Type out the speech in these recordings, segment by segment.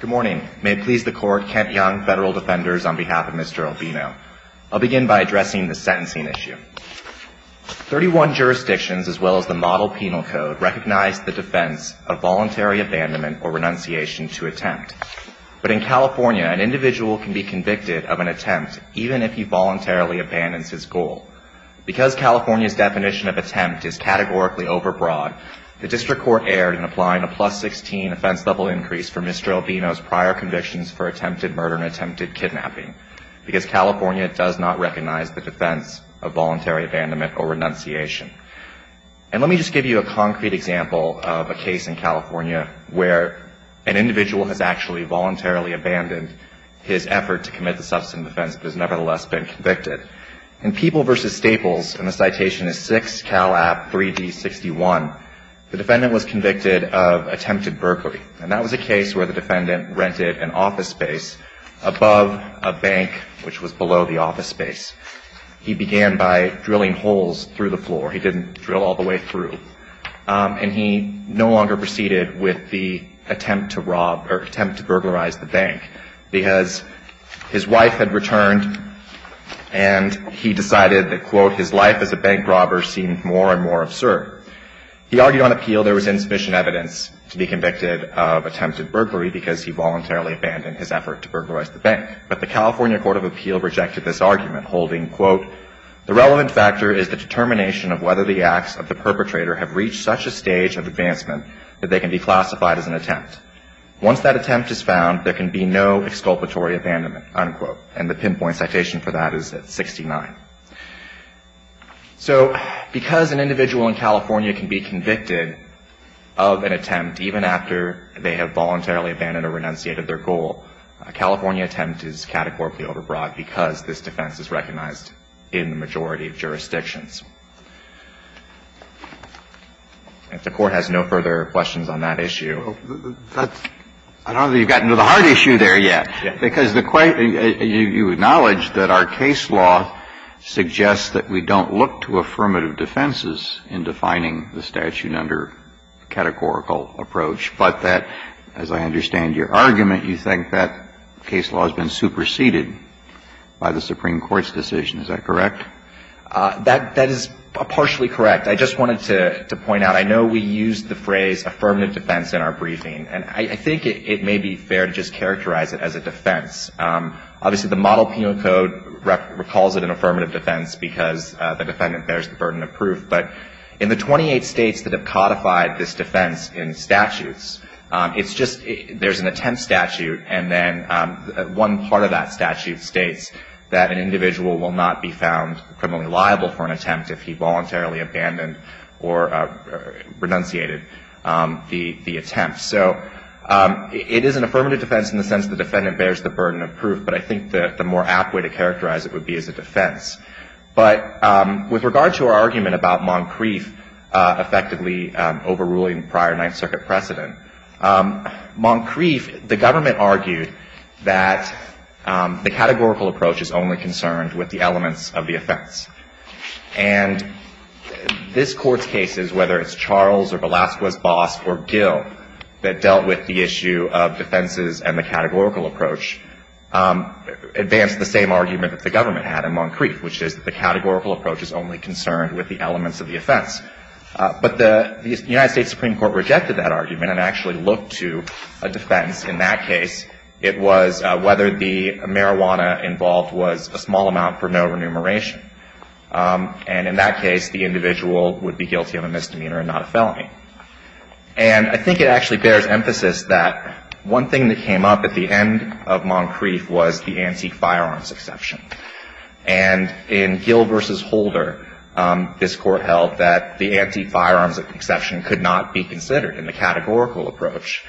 Good morning. May it please the Court, Kent Young, Federal Defenders, on behalf of Mr. Albino. I'll begin by addressing the sentencing issue. Thirty-one jurisdictions, as well as the Model Penal Code, recognize the defense of voluntary abandonment or renunciation to attempt. But in California, an individual can be convicted of an attempt even if he voluntarily abandons his goal. Because California's definition of attempt is categorically overbroad, the District Court erred in applying a plus-16 offense-level increase for Mr. Albino's prior convictions for attempted murder and attempted kidnapping, because California does not recognize the defense of voluntary abandonment or renunciation. And let me just give you a concrete example of a case in California where an individual has actually voluntarily abandoned his effort to commit the substance offense but has nevertheless been convicted. In People v. Staples, and the citation is 6 Cal. App. 3d61, the defendant was convicted of attempted burglary. And that was a case where the defendant rented an office space above a bank, which was below the office space. He began by drilling holes through the floor. He didn't drill all the way through. And he no longer proceeded with the attempt to rob or attempt to burglarize the bank, because his wife had returned, and he decided that, quote, his life as a bank robber seemed more and more absurd. He argued on appeal there was insufficient evidence to be convicted of attempted burglary because he voluntarily abandoned his effort to burglarize the bank. But the California Court of Appeal rejected this argument, holding, quote, the relevant factor is the determination of whether the acts of the perpetrator have reached such a stage of advancement that they can be classified as an attempt. Once that attempt is found, there can be no exculpatory abandonment, unquote. And the pinpoint citation for that is at 69. So because an individual in California can be convicted of an attempt even after they have voluntarily abandoned or renunciated their goal, a California attempt is categorically overbroad because this defense is recognized in the majority of jurisdictions. If the Court has no further questions on that issue. I don't know that you've gotten to the hard issue there yet, because the question you acknowledged that our case law suggests that we don't look to affirmative defenses in defining the statute under a categorical approach, but that, as I understand your argument, you think that case law has been superseded by the Supreme Court's decision. Is that correct? That is partially correct. I just wanted to point out, I know we used the phrase affirmative defense in our briefing, and I think it may be fair to just characterize it as a defense. Obviously, the Model Penal Code recalls it an affirmative defense because the defendant bears the burden of proof, but in the 28 states that have codified this defense in statutes, it's just there's an attempt statute, and then one part of that criminally liable for an attempt if he voluntarily abandoned or renunciated the attempt. So it is an affirmative defense in the sense the defendant bears the burden of proof, but I think the more apt way to characterize it would be as a defense. But with regard to our argument about Moncrief effectively overruling prior Ninth Circuit precedent, Moncrief, the government argued that the categorical approach is only concerned with the elements of the offense. And this Court's cases, whether it's Charles or Velasquez's boss or Gill that dealt with the issue of defenses and the categorical approach, advanced the same argument that the government had in Moncrief, which is the categorical approach is only concerned with the elements of the offense. But the United States Supreme Court rejected that argument and actually looked to a defense in that case. It was whether the marijuana involved was a small amount for no remuneration. And in that case, the individual would be guilty of a misdemeanor and not a felony. And I think it actually bears emphasis that one thing that came up at the end of Moncrief was the anti-firearms exception. And in Gill v. Holder, this Court held that the anti-firearms exception could not be considered in the categorical approach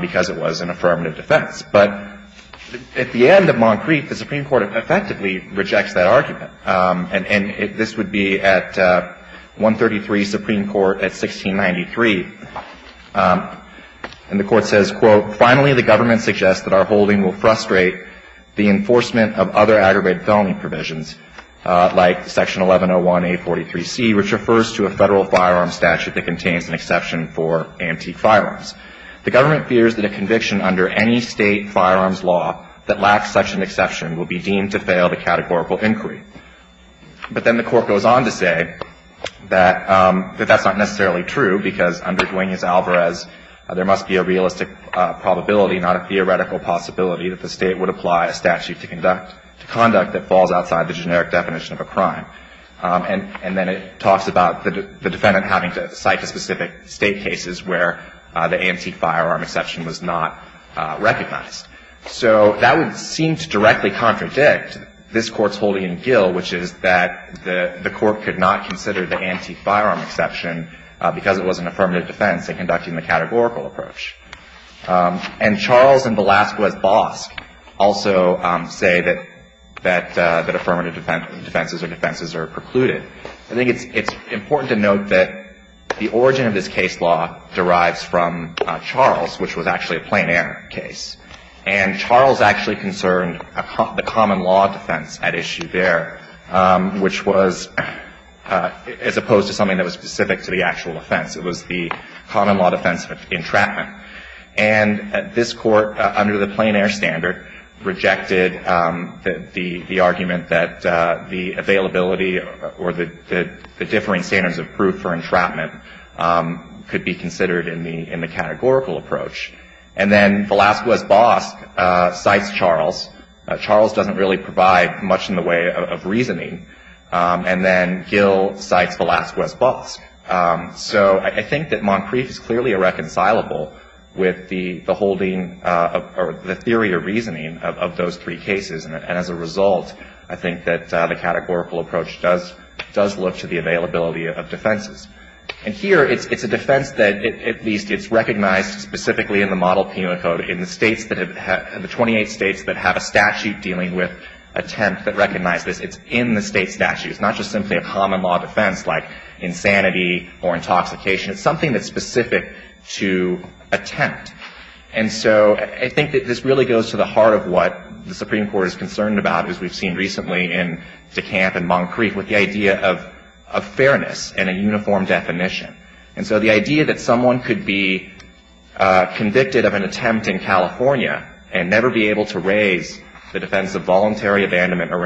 because it was an affirmative defense. But at the end of Moncrief, the Supreme Court effectively rejects that argument. And this would be at 133 Supreme Court at 1693. And the Court says, quote, Finally, the government suggests that our holding will frustrate the enforcement of other aggravated felony provisions, like Section 1101A43C, which refers to a Federal firearm statute that contains an exception for anti-firearms. The government fears that a conviction under any State firearms law that lacks such an exception will be deemed to fail the categorical inquiry. But then the Court goes on to say that that's not necessarily true because under Duaneus Alvarez, there must be a realistic probability, not a theoretical possibility, that the State would apply a statute to conduct that falls outside the generic definition of a crime. And then it talks about the defendant having to cite the specific State cases where the anti-firearm exception was not recognized. So that would seem to directly contradict this Court's holding in Gill, which is that the Court could not consider the anti-firearm exception because it was an affirmative defense in conducting the categorical approach. And Charles and Velazquez-Bosk also say that affirmative defenses are precluded. I think it's important to note that the origin of this case law derives from Charles, which was actually a plein air case. And Charles actually concerned the common law defense at issue there, which was as opposed to something that was specific to the actual defense of entrapment. And this Court, under the plein air standard, rejected the argument that the availability or the differing standards of proof for entrapment could be considered in the categorical approach. And then Velazquez-Bosk cites Charles. Charles doesn't really provide much in the way of reasoning. And then Gill cites Velazquez-Bosk. So I think that Montcrieff is clearly irreconcilable with the holding or the theory or reasoning of those three cases. And as a result, I think that the categorical approach does look to the availability of defenses. And here, it's a defense that at least it's recognized specifically in the Model Penal Code in the states that have the 28 states that have a statute dealing with attempt that recognize this. It's in the state statute. It's not just simply a common law defense like insanity or intoxication. It's something that's specific to attempt. And so I think that this really goes to the heart of what the Supreme Court is concerned about, as we've seen recently in DeKalb and Montcrieff, with the idea of fairness and a uniform definition. And so the idea that someone could be convicted of an attempt in California and never be able to raise the defense of voluntary abandonment or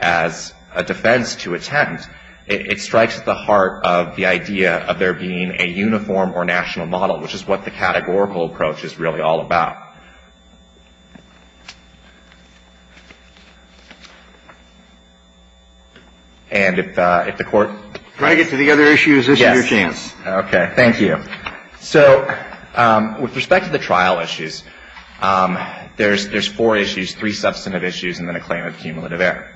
as a defense to attempt, it strikes at the heart of the idea of there being a uniform or national model, which is what the categorical approach is really all about. And if the Court ‑‑ Can I get to the other issues? This is your chance. Okay. Thank you. So with respect to the trial issues, there's four issues, three substantive issues, and then a claim of cumulative error.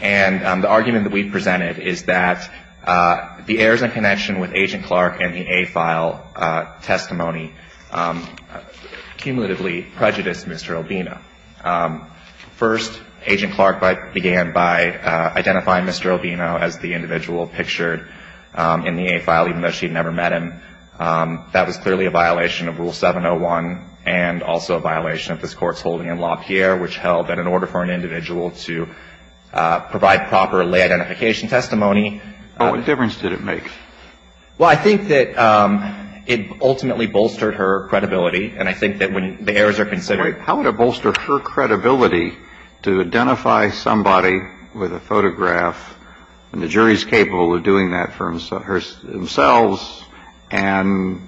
And the argument that we've presented is that the errors in connection with Agent Clark and the A file testimony cumulatively prejudiced Mr. Albino. First, Agent Clark began by identifying Mr. Albino as the individual pictured in the A file, even though she had never met him. That was clearly a violation of Rule 701 and also a violation of this Court's holding in LaPierre, which held that in order for an individual to provide proper lay identification testimony ‑‑ What difference did it make? Well, I think that it ultimately bolstered her credibility. And I think that when the errors are considered ‑‑ How would it bolster her credibility to identify somebody with a photograph when the jury is capable of doing that for themselves and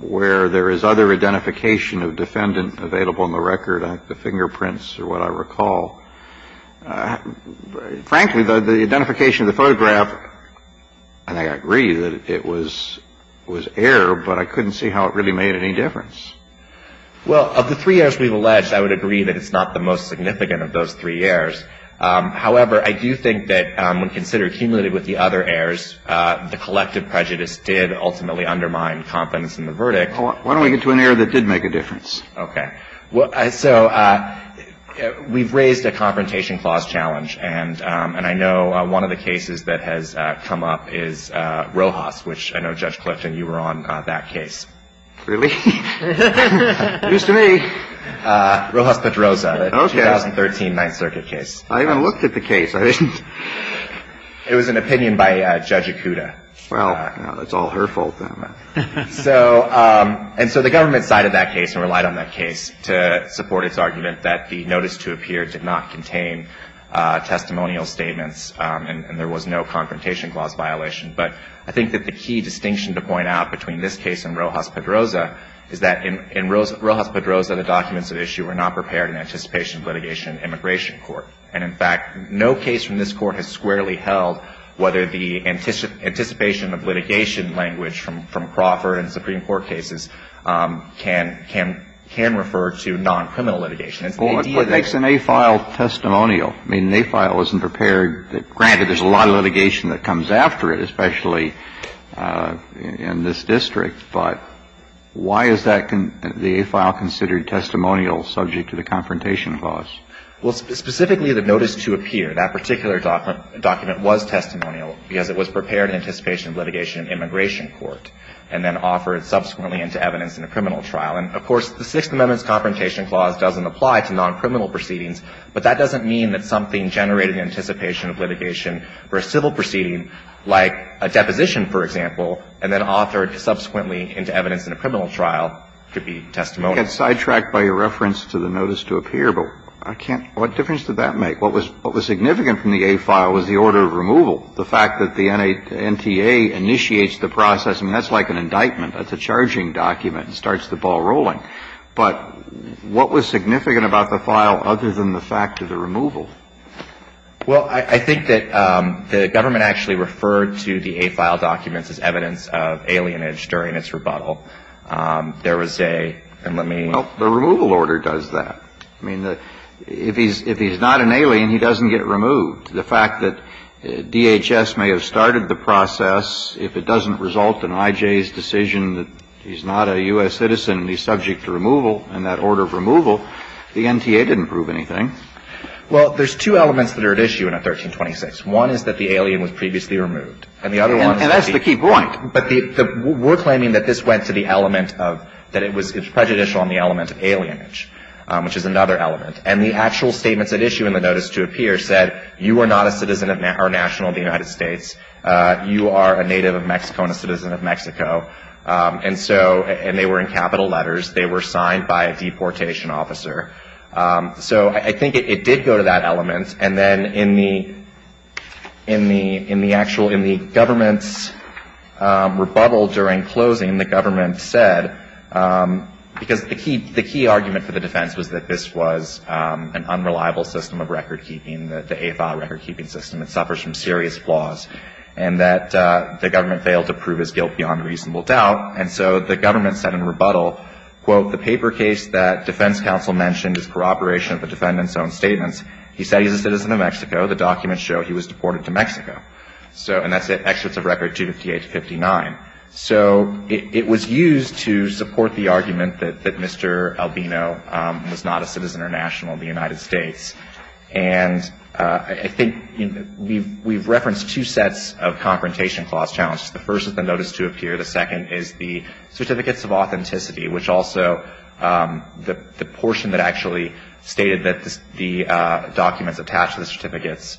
where there is other identification of defendant available on the record, the fingerprints are what I recall. Frankly, the identification of the photograph, I think I agree that it was error, but I couldn't see how it really made any difference. Well, of the three errors we've alleged, I would agree that it's not the most significant of those three errors. However, I do think that when considered cumulatively with the other errors, the collective prejudice did ultimately undermine confidence in the verdict. Why don't we get to an error that did make a difference? Okay. So we've raised a Confrontation Clause challenge, and I know one of the cases that has come up is Rojas, which I know, Judge Clifton, you were on that case. Really? Used to be. Rojas-Pedroza, the 2013 Ninth Circuit case. I even looked at the case. It was an opinion by Judge Ikuda. Well, it's all her fault, then. So, and so the government sided that case and relied on that case to support its argument that the notice to appear did not contain testimonial statements, and there was no Confrontation Clause violation. But I think that the key distinction to point out between this case and Rojas-Pedroza is that in Rojas-Pedroza, the documents at issue were not prepared in anticipation of litigation in an immigration court. And in fact, no case from this court has squarely held whether the anticipation of litigation language from Crawford and Supreme Court cases can refer to non-criminal litigation. Well, it makes an A-file testimonial. I mean, an A-file isn't prepared. Granted, there's a lot of litigation that comes after it, especially in this district, but why is the A-file considered testimonial subject to the Confrontation Clause? Well, specifically the notice to appear, that particular document was testimonial because it was prepared in anticipation of litigation in an immigration court and then offered subsequently into evidence in a criminal trial. And, of course, the Sixth Amendment's Confrontation Clause doesn't apply to non-criminal proceedings, but that doesn't mean that something generated in anticipation of litigation for a civil proceeding, like a deposition, for example, and then authored subsequently into evidence in a criminal trial could be testimonial. Kennedy, I got sidetracked by your reference to the notice to appear, but I can't what difference did that make? What was significant from the A-file was the order of removal, the fact that the NTA initiates the process. I mean, that's like an indictment. That's a charging document. It starts the ball rolling. But what was significant about the file other than the fact of the removal? Well, I think that the government actually referred to the A-file documents as evidence of alienage during its rebuttal. There was a — and let me — Well, the removal order does that. I mean, if he's not an alien, he doesn't get removed. The fact that DHS may have started the process, if it doesn't result in I.J.'s decision that he's not a U.S. citizen, he's subject to removal, and that order of removal, the NTA didn't prove anything. Well, there's two elements that are at issue in a 1326. One is that the alien was previously removed. And the other one is that the — And that's the key point. But the — we're claiming that this went to the element of — that it was prejudicial on the element of alienage, which is another element. And the actual statements at issue in the notice to appear said, you are not a citizen of — or national of the United States. You are a native of Mexico and a citizen of Mexico. And so — and they were in capital letters. They were signed by a deportation officer. So I think it did go to that element. And then in the — in the actual — in the government's rebuttal during closing, the government said — because the key — the key argument for the defense was that this was an unreliable system of record-keeping, the AFI record-keeping system. It suffers from serious flaws. And that the government failed to prove his guilt beyond reasonable doubt. And so the government said in rebuttal, quote, the paper case that defense counsel mentioned is corroboration of the defendant's own statements. He said he's a citizen of Mexico. The documents show he was deported to Mexico. So — and that's it. Excerpts of record 258 to 59. So it was used to support the argument that Mr. Albino was not a citizen or national of the United States. And I think we've referenced two sets of confrontation clause challenges. The first is the notice to appear. The second is the certificates of authenticity, which also — the portion that actually stated that the documents attached to the certificates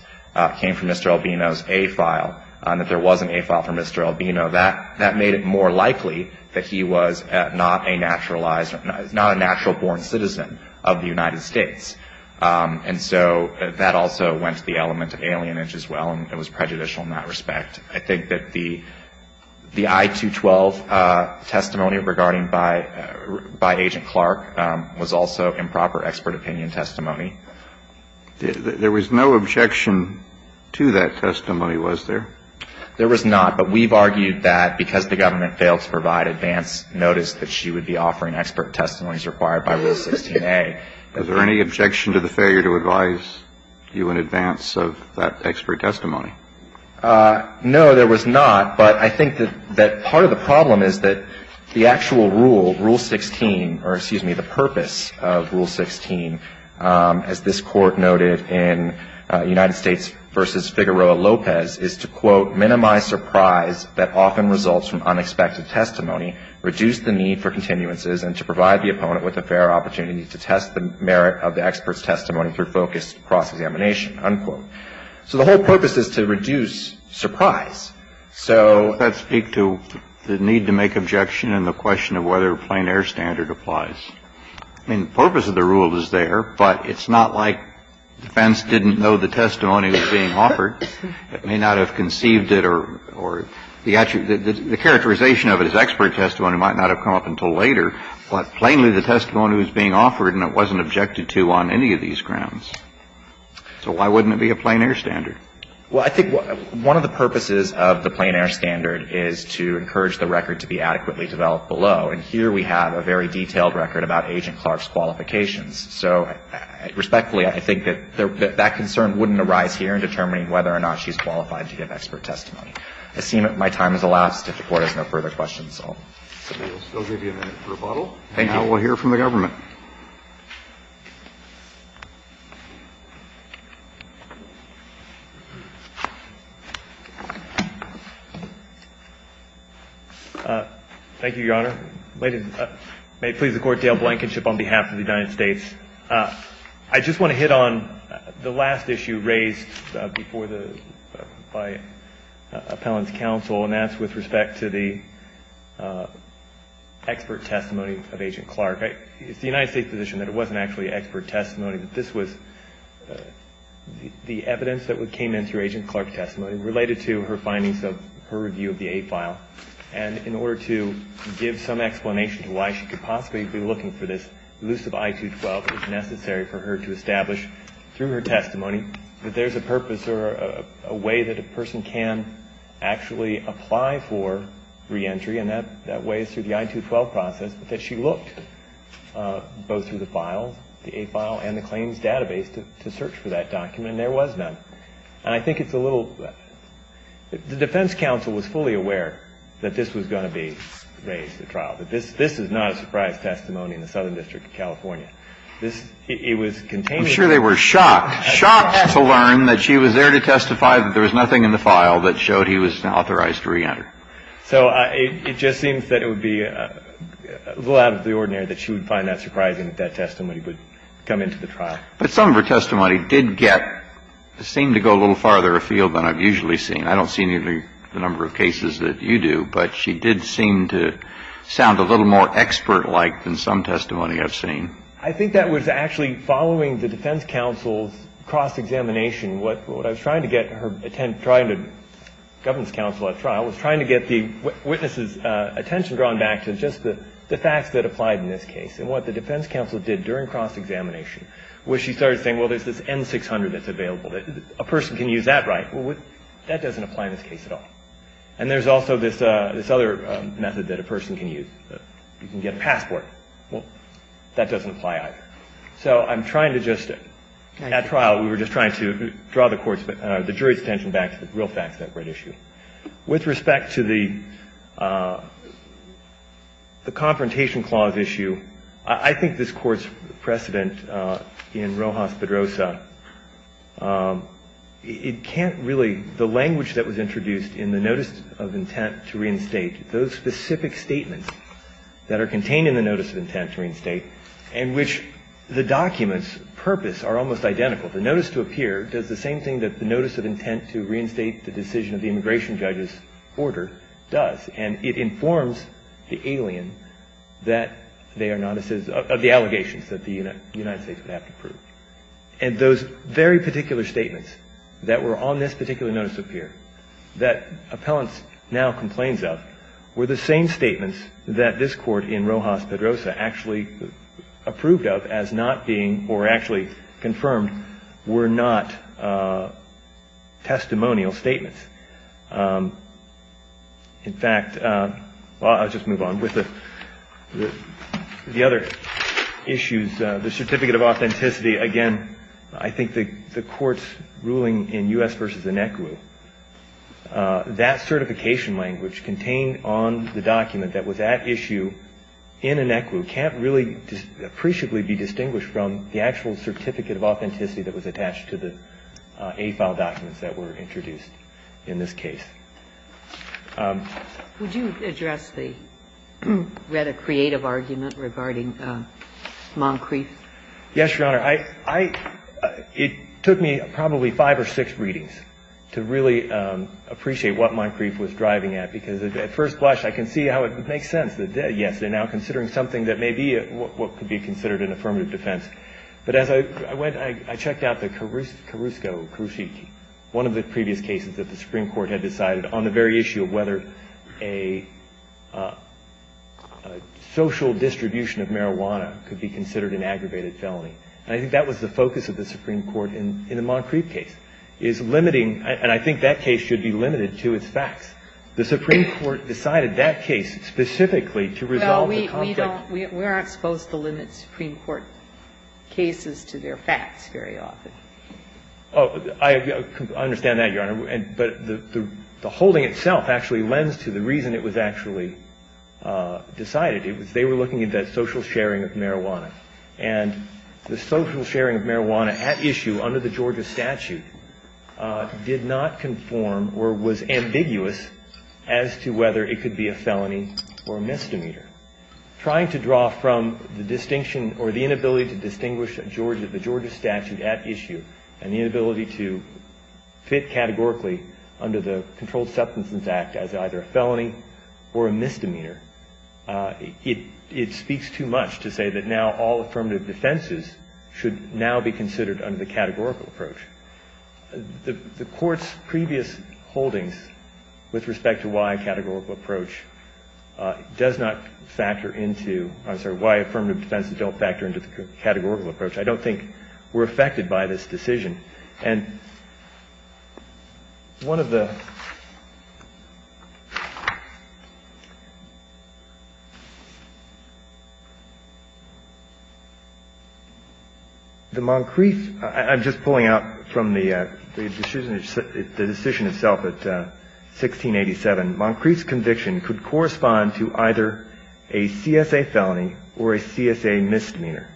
came from Mr. Albino's A-file and that there wasn't A-file from Mr. Albino. That made it more likely that he was not a naturalized — not a natural-born citizen of the United States. And so that also went to the element of alienage as well. And it was prejudicial in that respect. I think that the I-212 testimony regarding — by Agent Clark was also improper expert opinion testimony. There was no objection to that testimony, was there? There was not. But we've argued that because the government failed to provide advance notice that she would be offering expert testimonies required by Rule 16a. Was there any objection to the failure to advise you in advance of that expert testimony? No, there was not. But I think that part of the problem is that the actual rule, Rule 16 — or, excuse me, the purpose of Rule 16, as this Court noted in United States v. Figueroa-Lopez, is to, quote, minimize surprise that often results from unexpected testimony, reduce the need for continuances, and to provide the opponent with a fair opportunity to test the merit of the expert's testimony through focused cross-examination, unquote. So the whole purpose is to reduce surprise. So — Does that speak to the need to make objection and the question of whether a plein air standard applies? I mean, the purpose of the rule is there, but it's not like defense didn't know the testimony was being offered. It may not have conceived it or — the characterization of it as expert testimony might not have come up until later, but plainly the testimony was being offered and it wasn't objected to on any of these grounds. So why wouldn't it be a plein air standard? Well, I think one of the purposes of the plein air standard is to encourage the record to be adequately developed below. And here we have a very detailed record about Agent Clark's qualifications. So respectfully, I think that that concern wouldn't arise here in determining whether or not she's qualified to give expert testimony. I seem that my time has elapsed. If the Court has no further questions, I'll — We'll still give you a minute for a rebuttal. Thank you. And now we'll hear from the government. Thank you, Your Honor. Ladies and — may it please the Court, Dale Blankenship on behalf of the United States. I just want to hit on the last issue raised before the — by Appellant's counsel, and that's with respect to the expert testimony of Agent Clark. It's the United States position that it wasn't actually expert testimony, that this was the evidence that came in through Agent Clark's testimony related to her findings of her review of the A file. And in order to give some explanation to why she could possibly be looking for this elusive I-212, it's necessary for her to establish through her testimony that there's a purpose or a way that a person can actually apply for reentry, and that way is through the I-212 process, but that she looked both through the file, the A file, and the claims database to search for that document, and there was none. And I think it's a little — the defense counsel was fully aware that this was going to be raised at trial, that this is not a surprise testimony in the district of California. This — it was containing — I'm sure they were shocked — shocked to learn that she was there to testify that there was nothing in the file that showed he was authorized to reenter. So it just seems that it would be a little out of the ordinary that she would find that surprising that that testimony would come into the trial. But some of her testimony did get — seemed to go a little farther afield than I've usually seen. I don't see the number of cases that you do, but she did seem to sound a little more expert-like than some testimony I've seen. I think that was actually following the defense counsel's cross-examination. What I was trying to get her — trying to — the governance counsel at trial was trying to get the witness's attention drawn back to just the facts that applied in this case. And what the defense counsel did during cross-examination was she started saying, well, there's this N-600 that's available. A person can use that, right? Well, that doesn't apply in this case at all. And there's also this other method that a person can use. You can get a passport. Well, that doesn't apply either. So I'm trying to just — at trial, we were just trying to draw the jury's attention back to the real facts of that great issue. With respect to the confrontation clause issue, I think this Court's precedent in Rojas-Pedrosa, it can't really — the language that was introduced in the notice of intent to reinstate, those specific statements that are contained in the notice of intent to reinstate, in which the document's purpose are almost identical. The notice to appear does the same thing that the notice of intent to reinstate the decision of the immigration judge's order does. And it informs the alien that they are not — of the allegations that the United States would have to prove. And those very particular statements that were on this particular notice to appear, that appellants now complain of, were the same statements that this Court in Rojas-Pedrosa actually approved of as not being — or actually confirmed were not testimonial statements. In fact — well, I'll just move on. With the other issues, the certificate of authenticity, again, I think the Court's precedent in U.S. v. Inequu, that certification language contained on the document that was at issue in Inequu can't really appreciably be distinguished from the actual certificate of authenticity that was attached to the A-file documents that were introduced in this case. Would you address the — read a creative argument regarding Moncrief? Yes, Your Honor. I — it took me probably five or six readings to really appreciate what Moncrief was driving at. Because at first blush, I can see how it makes sense that, yes, they're now considering something that may be what could be considered an affirmative defense. But as I went, I checked out the Carrusco, Carruschi, one of the previous cases that the Supreme Court had decided on the very issue of whether a social distribution of marijuana could be considered an aggravated felony. And I think that was the focus of the Supreme Court in the Moncrief case, is limiting — and I think that case should be limited to its facts. The Supreme Court decided that case specifically to resolve the conflict — Well, we don't — we aren't supposed to limit Supreme Court cases to their facts very often. Oh, I understand that, Your Honor. But the holding itself actually lends to the reason it was actually decided. It was — they were looking at that social sharing of marijuana. And the social sharing of marijuana at issue under the Georgia statute did not conform or was ambiguous as to whether it could be a felony or a misdemeanor. Trying to draw from the distinction or the inability to distinguish the Georgia statute at issue and the inability to fit categorically under the Controlled Substances Act as either a felony or a misdemeanor, it speaks too much to say that now all affirmative defenses should now be considered under the categorical approach. The Court's previous holdings with respect to why a categorical approach does not factor into — I'm sorry, why affirmative defenses don't factor into the categorical approach, I don't think were affected by this decision. And one of the — the Moncrieff — I'm just pulling out from the decision itself at 1687. Moncrieff's conviction could correspond to either a CSA felony or a CSA misdemeanor.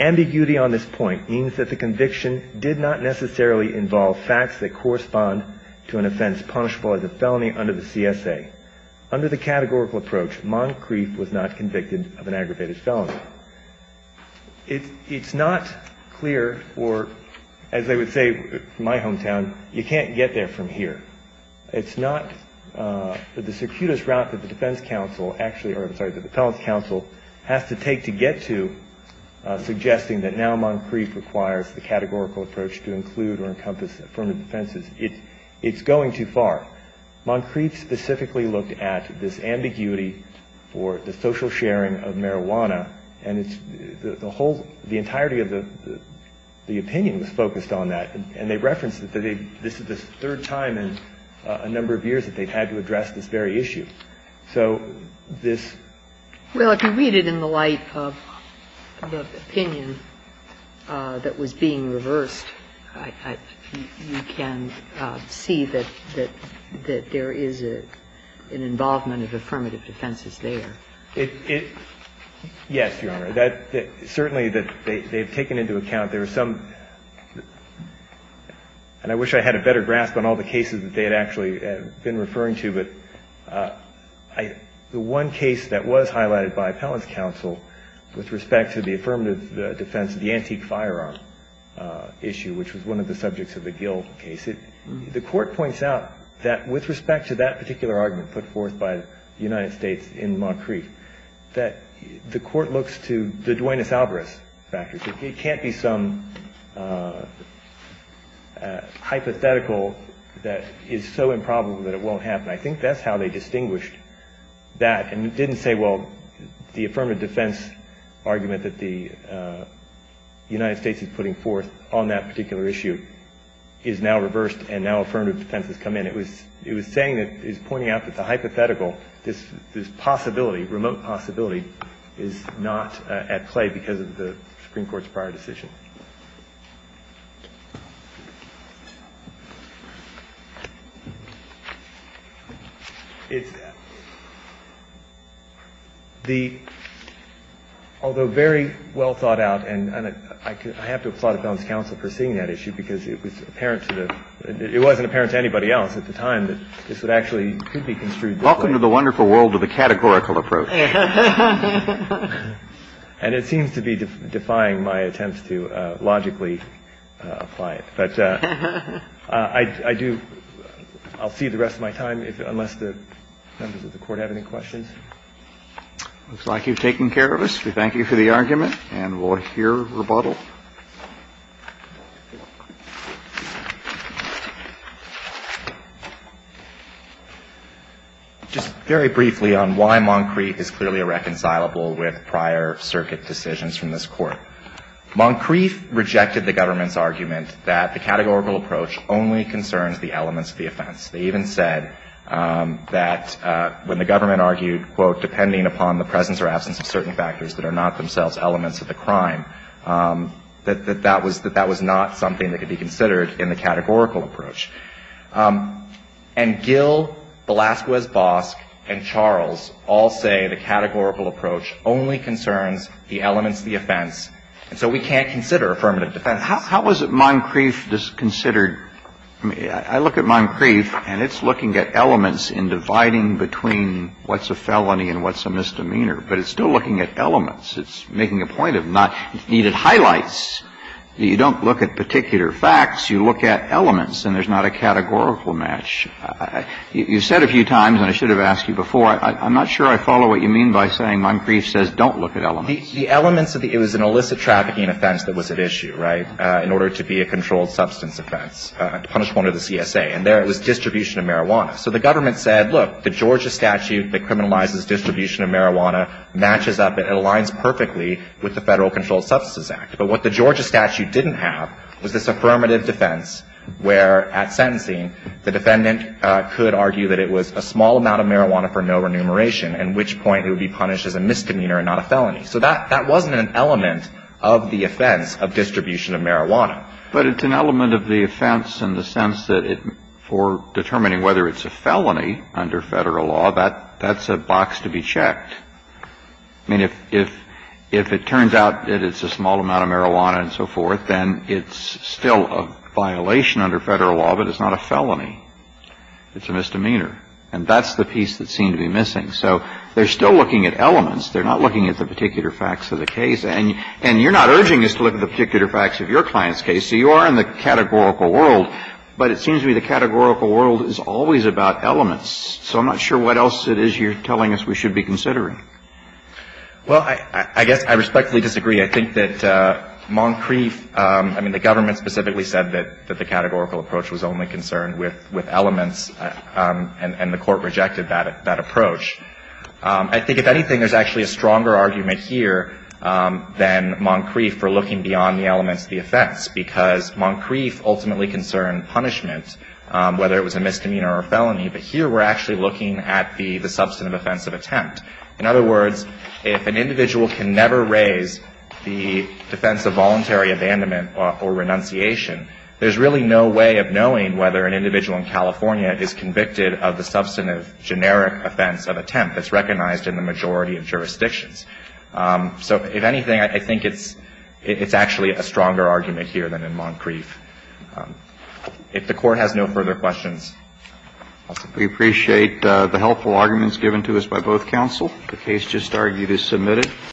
Ambiguity on this point means that the conviction did not necessarily involve facts that correspond to an offense punishable as a felony under the CSA. Under the categorical approach, Moncrieff was not convicted of an aggravated felony. It's not clear, or as they would say in my hometown, you can't get there from here. It's not — the circuitous route that the defense counsel actually — or I'm sorry, the defense counsel has to take to get to suggesting that now Moncrieff requires the categorical approach to include or encompass affirmative defenses, it's going too far. Moncrieff specifically looked at this ambiguity for the social sharing of marijuana, and it's — the whole — the entirety of the opinion was focused on that. And they referenced that this is the third time in a number of years that they've had to address this very issue. So this — Well, if you read it in the light of the opinion that was being reversed, I — you can see that — that there is an involvement of affirmative defenses there. Yes, Your Honor. That — certainly that they've taken into account. There are some — and I wish I had a better grasp on all the cases that they had actually been referring to, but I — the one case that was highlighted by appellant's counsel with respect to the affirmative defense, the antique firearm issue, which was one of the subjects of the Gill case, it — the court points out that with respect to that particular argument put forth by the United States in Moncrieff, that the court looks to the I think that's how they distinguished that. And it didn't say, well, the affirmative defense argument that the United States is putting forth on that particular issue is now reversed and now affirmative defense has come in. It was — it was saying that — it was pointing out that the hypothetical, this possibility, remote possibility, is not at play because of the Supreme Court's prior decision. It's — the — although very well thought out and — and I could — I have to applaud appellant's counsel for seeing that issue because it was apparent to the — it wasn't apparent to anybody else at the time that this would actually — could be construed this way. Welcome to the wonderful world of the categorical approach. And it seems to be defying my attempts to logically apply it. But I do — I'll see the rest of my time unless the members of the court have any questions. Looks like you've taken care of us. We thank you for the argument. And we'll hear rebuttal. Just very briefly on why Moncrieff is clearly irreconcilable with prior circuit decisions from this Court. Moncrieff rejected the government's argument that the categorical approach only concerns the elements of the offense. They even said that when the government argued, quote, depending upon the presence or absence of certain factors that are not themselves elements of the crime, that that was — that that was not something that could be considered in the categorical approach. And Gill, Velasquez-Bosk, and Charles all say the categorical approach only concerns the elements of the offense. And so we can't consider affirmative defense. How is it Moncrieff just considered — I mean, I look at Moncrieff, and it's looking at elements in dividing between what's a felony and what's a misdemeanor. But it's still looking at elements. It's making a point of not — it's needed highlights. You don't look at particular facts. You look at elements. And there's not a categorical match. You've said a few times, and I should have asked you before, I'm not sure I follow what you mean by saying Moncrieff says don't look at elements. The elements of the — it was an illicit trafficking offense that was at issue, right, in order to be a controlled substance offense, a punishment under the CSA. And there it was distribution of marijuana. So the government said, look, the Georgia statute that criminalizes distribution of marijuana matches up — it aligns perfectly with the Federal Controlled Substances Act. But what the Georgia statute didn't have was this affirmative defense where, at sentencing, the defendant could argue that it was a small amount of marijuana for no remuneration, at which point it would be punished as a misdemeanor and not a felony. That wasn't an element of the offense of distribution of marijuana. But it's an element of the offense in the sense that it — for determining whether it's a felony under Federal law, that's a box to be checked. I mean, if it turns out that it's a small amount of marijuana and so forth, then it's still a violation under Federal law, but it's not a felony. It's a misdemeanor. And that's the piece that seemed to be missing. So they're still looking at elements. They're not looking at the particular facts of the case. And you're not urging us to look at the particular facts of your client's case. So you are in the categorical world. But it seems to me the categorical world is always about elements. So I'm not sure what else it is you're telling us we should be considering. Well, I guess I respectfully disagree. I think that Moncrief — I mean, the government specifically said that the categorical approach was only concerned with elements, and the Court rejected that approach. I think, if anything, there's actually a stronger argument here than Moncrief for looking beyond the elements of the offense, because Moncrief ultimately concerned punishment, whether it was a misdemeanor or a felony. But here we're actually looking at the substantive offense of attempt. In other words, if an individual can never raise the defense of voluntary abandonment or renunciation, there's really no way of knowing whether an individual in California is convicted of the substantive, generic offense of attempt that's recognized in the majority of jurisdictions. So, if anything, I think it's — it's actually a stronger argument here than in Moncrief. If the Court has no further questions, I'll stop. We appreciate the helpful arguments given to us by both counsel. The case just argued is submitted.